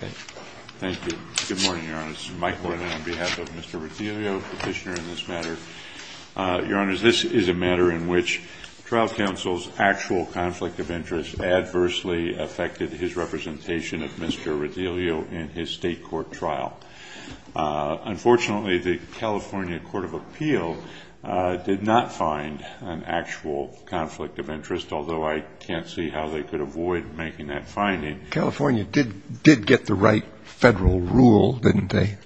This is a matter in which trial counsel's actual conflict of interest adversely affected his representation of Mr. Redillo in his state court trial. Unfortunately, the California Court of Appeal did not find an actual conflict of interest, although I can't see how they could avoid making that finding. California did get the right federal rule, didn't they?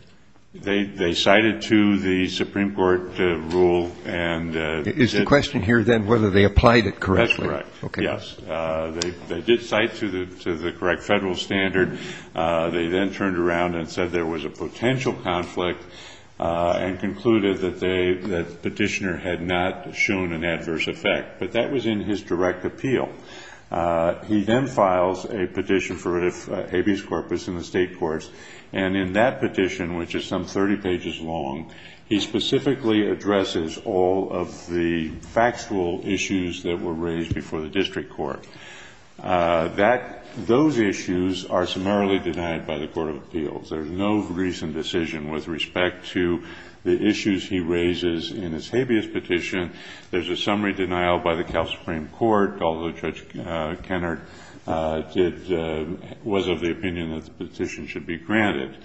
They cited to the Supreme Court rule and Is the question here then whether they applied it correctly? That's correct. Yes. They did cite to the correct federal standard. They then turned around and said there was a potential conflict and concluded that the petitioner had not shown an adverse effect. But that was in his direct appeal. He then files a petition for habeas corpus in the state courts. And in that petition, which is some 30 pages long, he specifically addresses all of the factual issues that were raised before the district court. That those issues are summarily denied by the Court of Appeals. There's no recent decision with respect to the issues he raises in his habeas petition. There's a summary denial by the Cal Supreme Court, although Judge Kennard was of the opinion that the petition should be granted.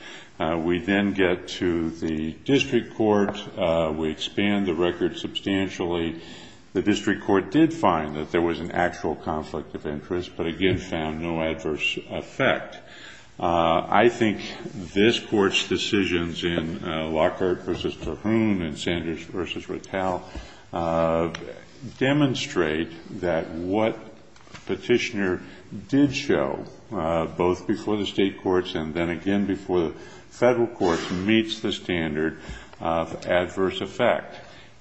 We then get to the district court. We expand the record substantially. The district court did find that there was an actual conflict of interest, but again found no adverse effect. I think this Court's decisions in Lockhart v. Tahoon and Sanders v. Rattal demonstrate that what Petitioner did show, both before the state courts and then again before the federal courts, meets the standard of adverse effect.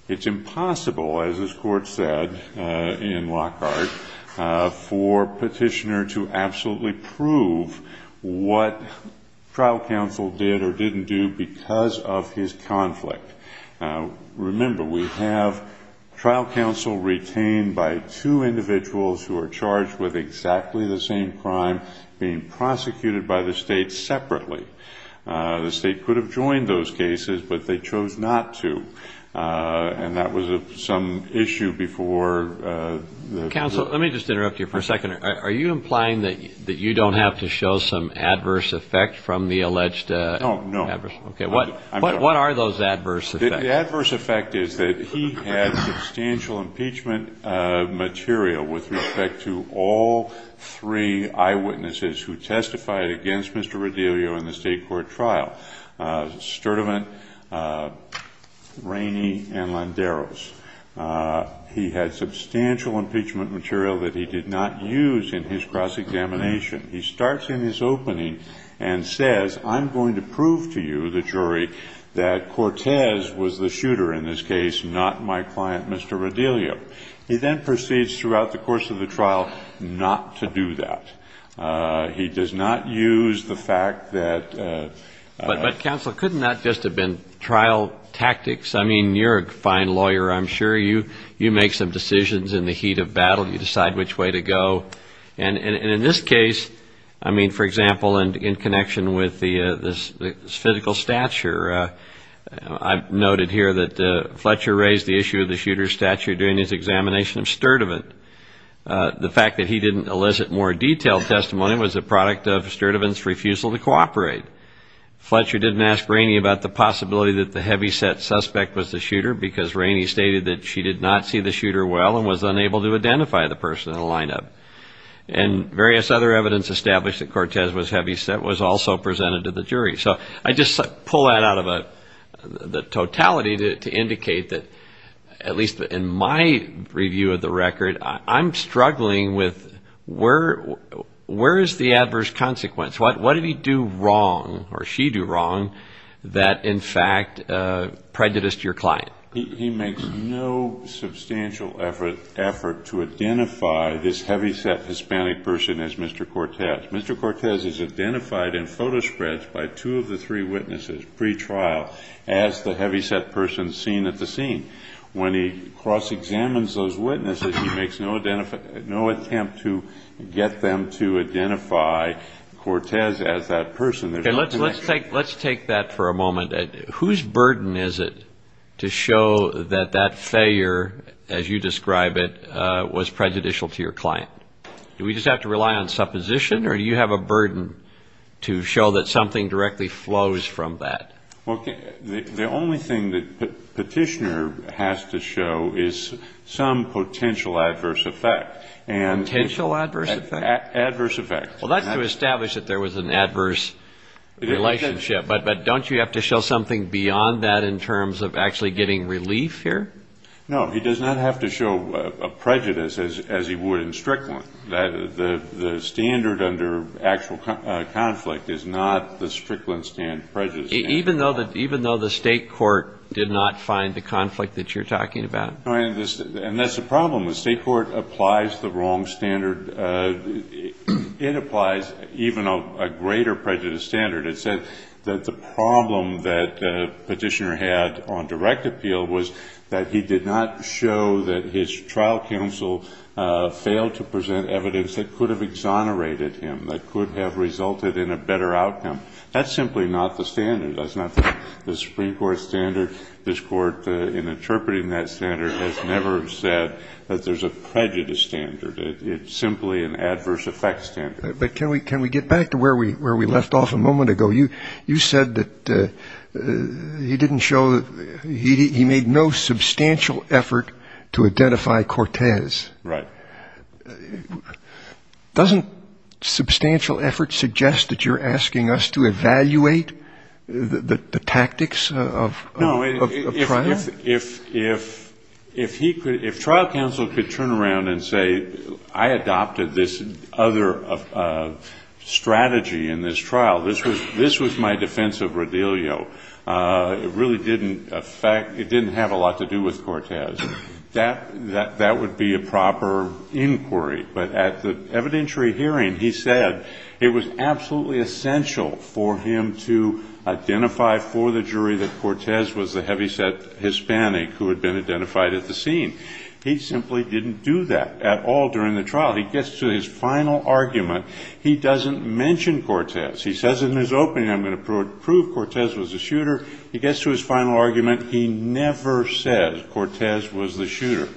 It's impossible, as this Court said in Lockhart, for Petitioner to absolutely prove what trial counsel did or didn't do because of his conflict. Remember, we have trial counsel retained by two individuals who are charged with exactly the same crime being prosecuted by the state separately. The state could have joined those cases, but they chose not to, and that was some issue before the federal courts. Counsel, let me just interrupt you for a second. Are you implying that you don't have to show some adverse effect from the alleged adverse effect? No, no. What are those adverse effects? The adverse effect is that he had substantial impeachment material with respect to all three eyewitnesses who testified against Mr. Rodilio in the state court trial, Sturdivant, Rainey, and Landeros. He had substantial impeachment material that he did not use in his cross-examination. He starts in his opening and says, I'm going to prove to you, the jury, that Cortez was the shooter in this case, not my client, Mr. Rodilio. He then proceeds throughout the course of the trial not to do that. He does not use the fact that ---- But, Counsel, couldn't that just have been trial tactics? I mean, you're a fine lawyer, I'm sure. You make some decisions in the heat of battle. You decide which way to go. And in this case, I mean, for example, in connection with the physical stature, I've noted here that Fletcher raised the issue of the shooter's stature during his examination of Sturdivant. The fact that he didn't elicit more detailed testimony was a product of Sturdivant's refusal to cooperate. Fletcher didn't ask Rainey about the possibility that the heavyset suspect was the shooter because Rainey stated that she did not see the shooter well and was unable to identify the person in the lineup. And various other evidence established that Cortez was heavyset was also presented to the jury. So I just pull that out of the totality to indicate that, at least in my review of the record, I'm struggling with where is the adverse consequence? What did he do wrong or she do wrong that, in fact, prejudiced your client? He makes no substantial effort to identify this heavyset Hispanic person as Mr. Cortez. Mr. Cortez is identified in photo spreads by two of the three witnesses pretrial as the heavyset person seen at the scene. When he cross-examines those witnesses, he makes no attempt to get them to identify Cortez as that person. Let's take that for a moment. Whose burden is it to show that that failure, as you describe it, was prejudicial to your client? Do we just have to rely on supposition or do you have a burden to show that something directly flows from that? Well, the only thing that Petitioner has to show is some potential adverse effect. Potential adverse effect? Adverse effect. Well, that's to establish that there was an adverse relationship. But don't you have to show something beyond that in terms of actually getting relief here? No. He does not have to show a prejudice as he would in Strickland. The standard under actual conflict is not the Strickland prejudice standard. Even though the state court did not find the conflict that you're talking about? And that's the problem. The state court applies the wrong standard. It applies even a greater prejudice standard. It said that the problem that Petitioner had on direct appeal was that he did not show that his trial counsel failed to present evidence that could have exonerated him, that could have resulted in a better outcome. That's simply not the standard. That's not the Supreme Court standard. This Court, in interpreting that standard, has never said that there's a prejudice standard. It's simply an adverse effect standard. But can we get back to where we left off a moment ago? You said that he didn't show, he made no substantial effort to identify Cortez. Right. Doesn't substantial effort suggest that you're asking us to evaluate the tactics of trial? If trial counsel could turn around and say, I adopted this other strategy in this trial, this was my defense of Rodilio, it really didn't affect, it didn't have a lot to do with Cortez, that would be a proper inquiry. But at the evidentiary hearing, he said it was absolutely essential for him to identify for the jury that Cortez was the heavyset Hispanic who had been identified at the scene. He simply didn't do that at all during the trial. He gets to his final argument. He doesn't mention Cortez. He says in his opening, I'm going to prove Cortez was the shooter. He gets to his final argument. He never says Cortez was the shooter.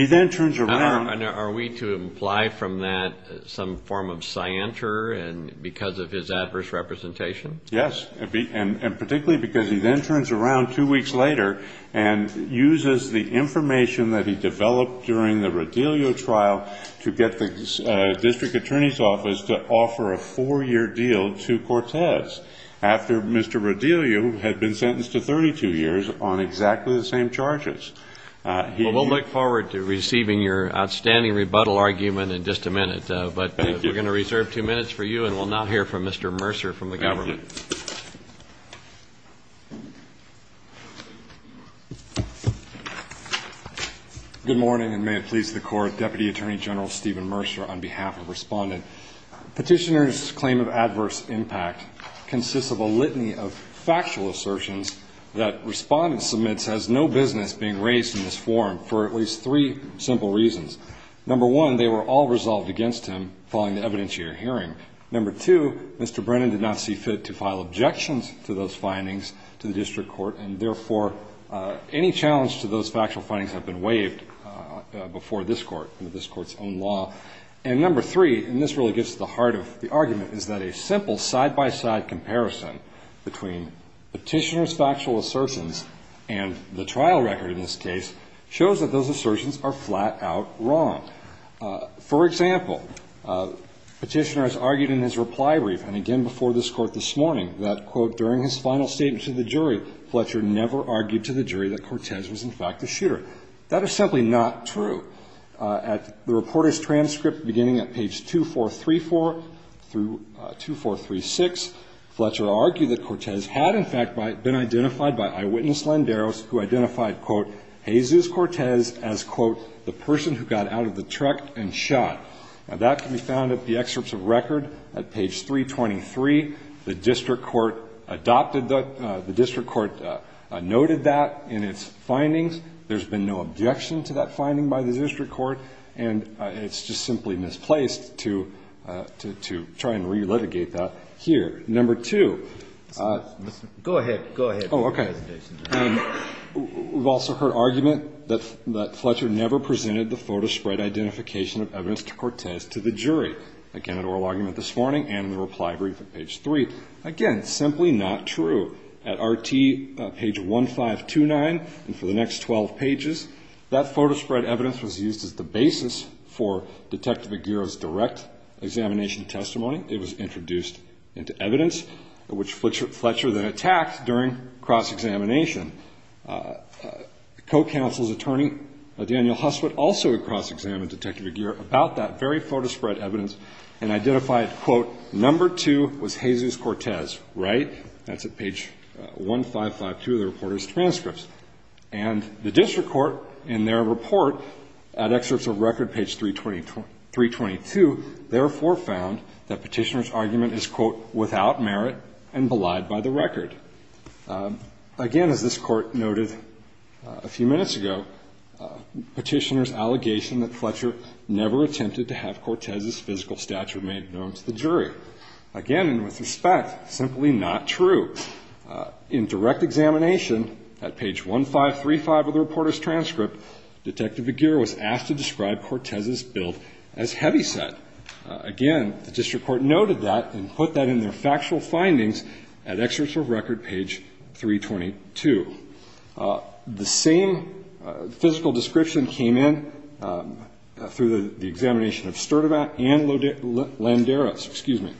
Are we to imply from that some form of cianter because of his adverse representation? Yes, and particularly because he then turns around two weeks later and uses the information that he developed during the Rodilio trial to get the district attorney's office to offer a four-year deal to Cortez after Mr. Rodilio had been sentenced to 32 years on exactly the same charges. Well, we'll look forward to receiving your outstanding rebuttal argument in just a minute. But we're going to reserve two minutes for you, and we'll now hear from Mr. Mercer from the government. Thank you. Good morning, and may it please the Court. Deputy Attorney General Stephen Mercer on behalf of Respondent. Petitioner's claim of adverse impact consists of a litany of factual assertions that Respondent submits has no business being raised in this forum for at least three simple reasons. Number one, they were all resolved against him following the evidentiator hearing. Number two, Mr. Brennan did not see fit to file objections to those findings to the district court, and, therefore, any challenge to those factual findings have been waived before this court and this court's own law. And number three, and this really gets to the heart of the argument, is that a simple side-by-side comparison between Petitioner's factual assertions and the trial record in this case shows that those assertions are flat-out wrong. For example, Petitioner has argued in his reply brief and again before this court this morning that, quote, during his final statement to the jury, Fletcher never argued to the jury that Cortez was in fact a shooter. That is simply not true. At the reporter's transcript beginning at page 2434 through 2436, Fletcher argued that Cortez had in fact been identified by eyewitness Lenderos who identified, quote, Jesus Cortez as, quote, the person who got out of the truck and shot. Now, that can be found at the excerpts of record at page 323. The district court adopted that. The district court noted that in its findings. There's been no objection to that finding by the district court. And it's just simply misplaced to try and relitigate that here. Number two. Go ahead. Go ahead. Oh, okay. We've also heard argument that Fletcher never presented the photo spread identification of evidence to Cortez to the jury, again, at oral argument this morning and in the reply brief at page three. Again, simply not true. At RT, page 1529, and for the next 12 pages, that photo spread evidence was used as the basis for Detective Aguirre's direct examination testimony. It was introduced into evidence, which Fletcher then attacked during cross-examination. The co-counsel's attorney, Daniel Husswood, also cross-examined Detective Aguirre about that very photo spread evidence and identified, quote, number two was Jesus Cortez, right? That's at page 1552 of the reporter's transcripts. And the district court, in their report, at excerpts of record, page 322, therefore found that Petitioner's argument is, quote, without merit and belied by the record. Again, as this court noted a few minutes ago, Petitioner's allegation that Fletcher never attempted to have Cortez's physical stature made known to the jury. Again, and with respect, simply not true. In direct examination, at page 1535 of the reporter's transcript, Detective Aguirre was asked to describe Cortez's build as heavyset. Again, the district court noted that and put that in their factual findings at excerpts of record, page 322. The same physical description came in through the examination of Sturdivant and Landeros. Excuse me.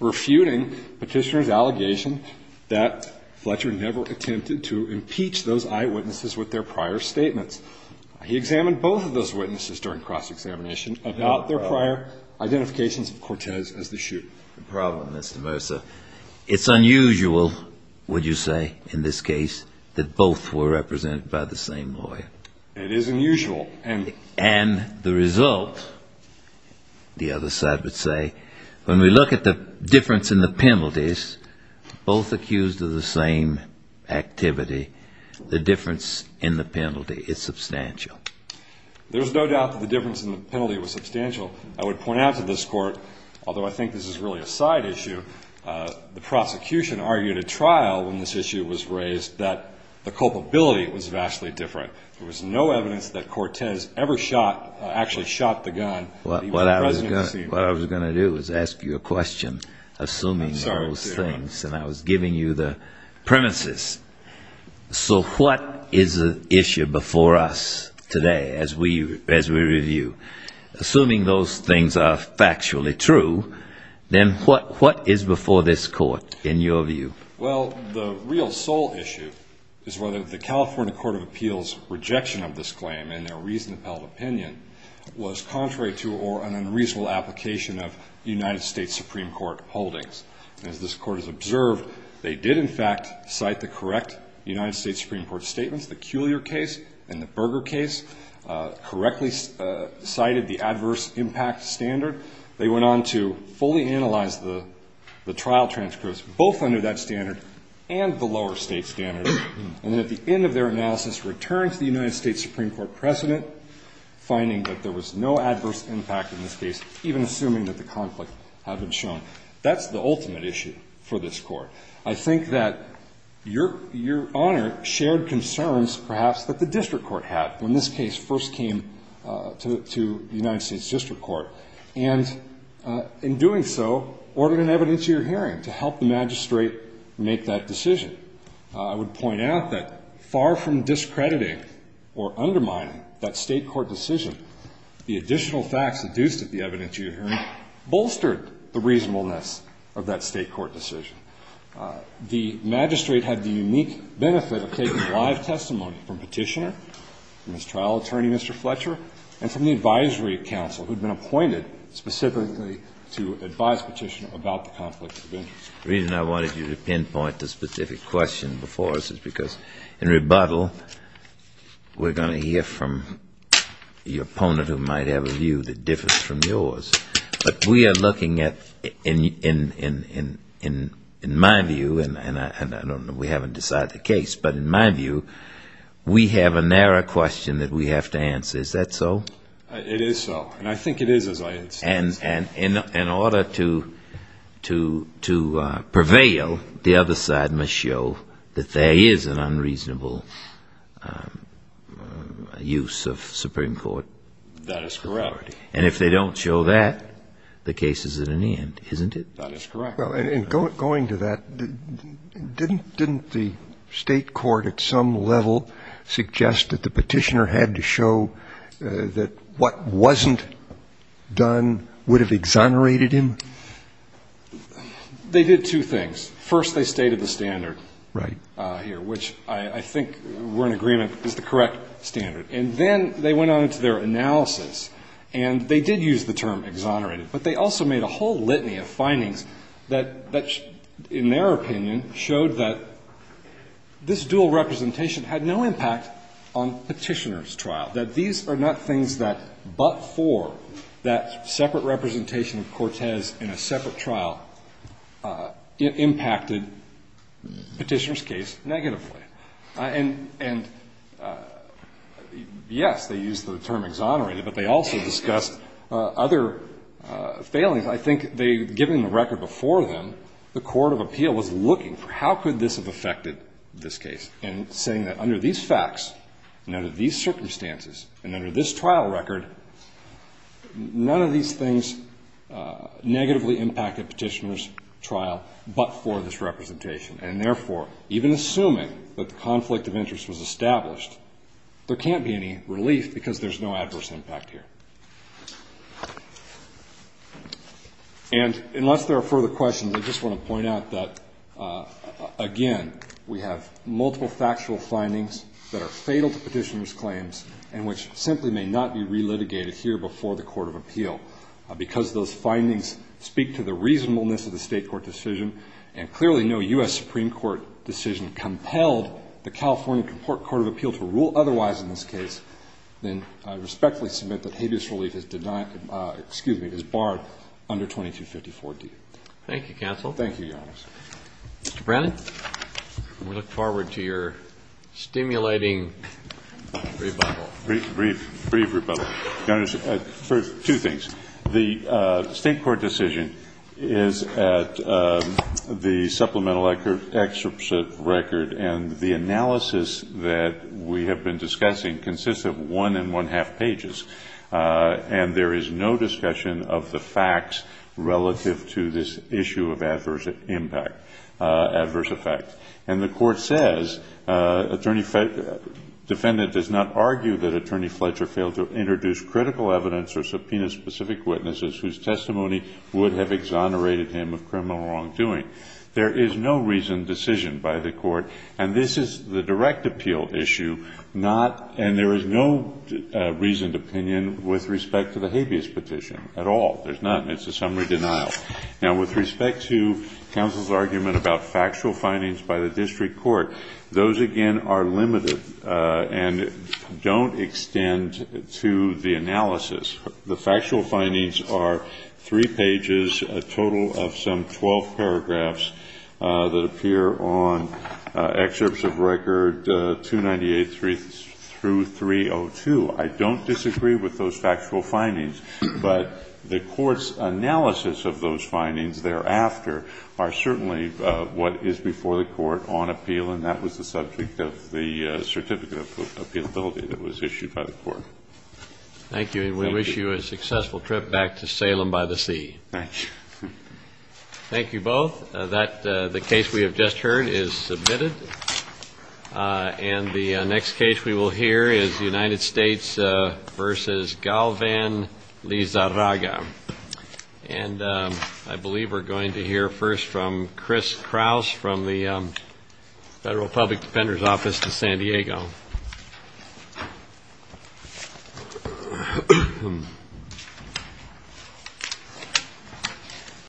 Refuting Petitioner's allegation that Fletcher never attempted to impeach those eyewitnesses with their prior statements. He examined both of those witnesses during cross-examination about their prior identifications of Cortez as the shooter. The problem, Mr. Mercer, it's unusual, would you say, in this case, that both were represented by the same lawyer. It is unusual. And the result, the other side would say, when we look at the difference in the penalties, both accused of the same activity, the difference in the penalty is substantial. There's no doubt that the difference in the penalty was substantial. I would point out to this court, although I think this is really a side issue, the prosecution argued at trial when this issue was raised that the culpability was vastly different. There was no evidence that Cortez ever shot, actually shot the gun. What I was going to do is ask you a question, assuming those things. And I was giving you the premises. So what is the issue before us today as we review? Assuming those things are factually true, then what is before this court in your view? Well, the real sole issue is whether the California Court of Appeals' rejection of this claim and their reasoned opinion was contrary to or an unreasonable application of United States Supreme Court holdings. As this court has observed, they did, in fact, cite the correct United States Supreme Court statements. The Cuellar case and the Berger case correctly cited the adverse impact standard. They went on to fully analyze the trial transcripts, both under that standard and the lower state standard. And then at the end of their analysis, returned to the United States Supreme Court precedent, finding that there was no adverse impact in this case, even assuming that the conflict had been shown. That's the ultimate issue for this court. I think that Your Honor shared concerns, perhaps, that the district court had when this case first came to the United States district court. And in doing so, ordered an evidence of your hearing to help the magistrate make that decision. I would point out that far from discrediting or undermining that state court decision, the additional facts induced at the evidence of your hearing bolstered the reasonableness of that state court decision. The magistrate had the unique benefit of taking live testimony from Petitioner, from his trial attorney, Mr. Fletcher, and from the advisory council who had been appointed specifically to advise Petitioner about the conflict of interest. The reason I wanted you to pinpoint the specific question before us is because in rebuttal, we're going to hear from your opponent who might have a view that differs from yours. But we are looking at, in my view, and I don't know, we haven't decided the case, but in my view, we have a narrow question that we have to answer. Is that so? It is so. And I think it is as I understand it. And in order to prevail, the other side must show that there is an unreasonable use of Supreme Court authority. That is correct. And if they don't show that, the case is at an end, isn't it? That is correct. And going to that, didn't the state court at some level suggest that the Petitioner had to show that what wasn't done would have exonerated him? They did two things. First, they stated the standard here, which I think we're in agreement is the correct standard. And then they went on to their analysis, and they did use the term exonerated. But they also made a whole litany of findings that, in their opinion, showed that this dual representation had no impact on Petitioner's trial, that these are not things that but for that separate representation of Cortez in a separate trial impacted Petitioner's case negatively. And, yes, they used the term exonerated, but they also discussed other failings. I think they, given the record before them, the court of appeal was looking for how could this have affected this case, and saying that under these facts, under these circumstances, and under this trial record, none of these things negatively impacted Petitioner's trial but for this representation. And, therefore, even assuming that the conflict of interest was established, there can't be any relief because there's no adverse impact here. And unless there are further questions, I just want to point out that, again, we have multiple factual findings that are fatal to Petitioner's claims and which simply may not be relitigated here before the court of appeal because those findings speak to the reasonableness of the state court decision. And clearly no U.S. Supreme Court decision compelled the California Court of Appeal to rule otherwise in this case. And I respectfully submit that habeas relief is denied, excuse me, is barred under 2254D. Thank you, counsel. Thank you, Your Honor. Mr. Brennan, we look forward to your stimulating rebuttal. Brief rebuttal. Your Honor, two things. The state court decision is at the supplemental excerpt record, and the analysis that we have been discussing consists of one and one-half pages. And there is no discussion of the facts relative to this issue of adverse impact, adverse effect. And the court says, defendant does not argue that Attorney Fletcher failed to introduce critical evidence or subpoena specific witnesses whose testimony would have exonerated him of criminal wrongdoing. There is no reasoned decision by the court. And this is the direct appeal issue, not – and there is no reasoned opinion with respect to the habeas petition at all. There's none. It's a summary denial. Now, with respect to counsel's argument about factual findings by the district court, those, again, are limited and don't extend to the analysis. The factual findings are three pages, a total of some 12 paragraphs that appear on excerpts of record 298 through 302. I don't disagree with those factual findings. But the court's analysis of those findings thereafter are certainly what is before the court on appeal, and that was the subject of the certificate of appealability that was issued by the court. Thank you. And we wish you a successful trip back to Salem by the sea. Thank you. Thank you both. That – the case we have just heard is submitted. And the next case we will hear is United States v. Galvan Lizarraga. And I believe we're going to hear first from Chris Krause from the Federal Public Defender's Office in San Diego.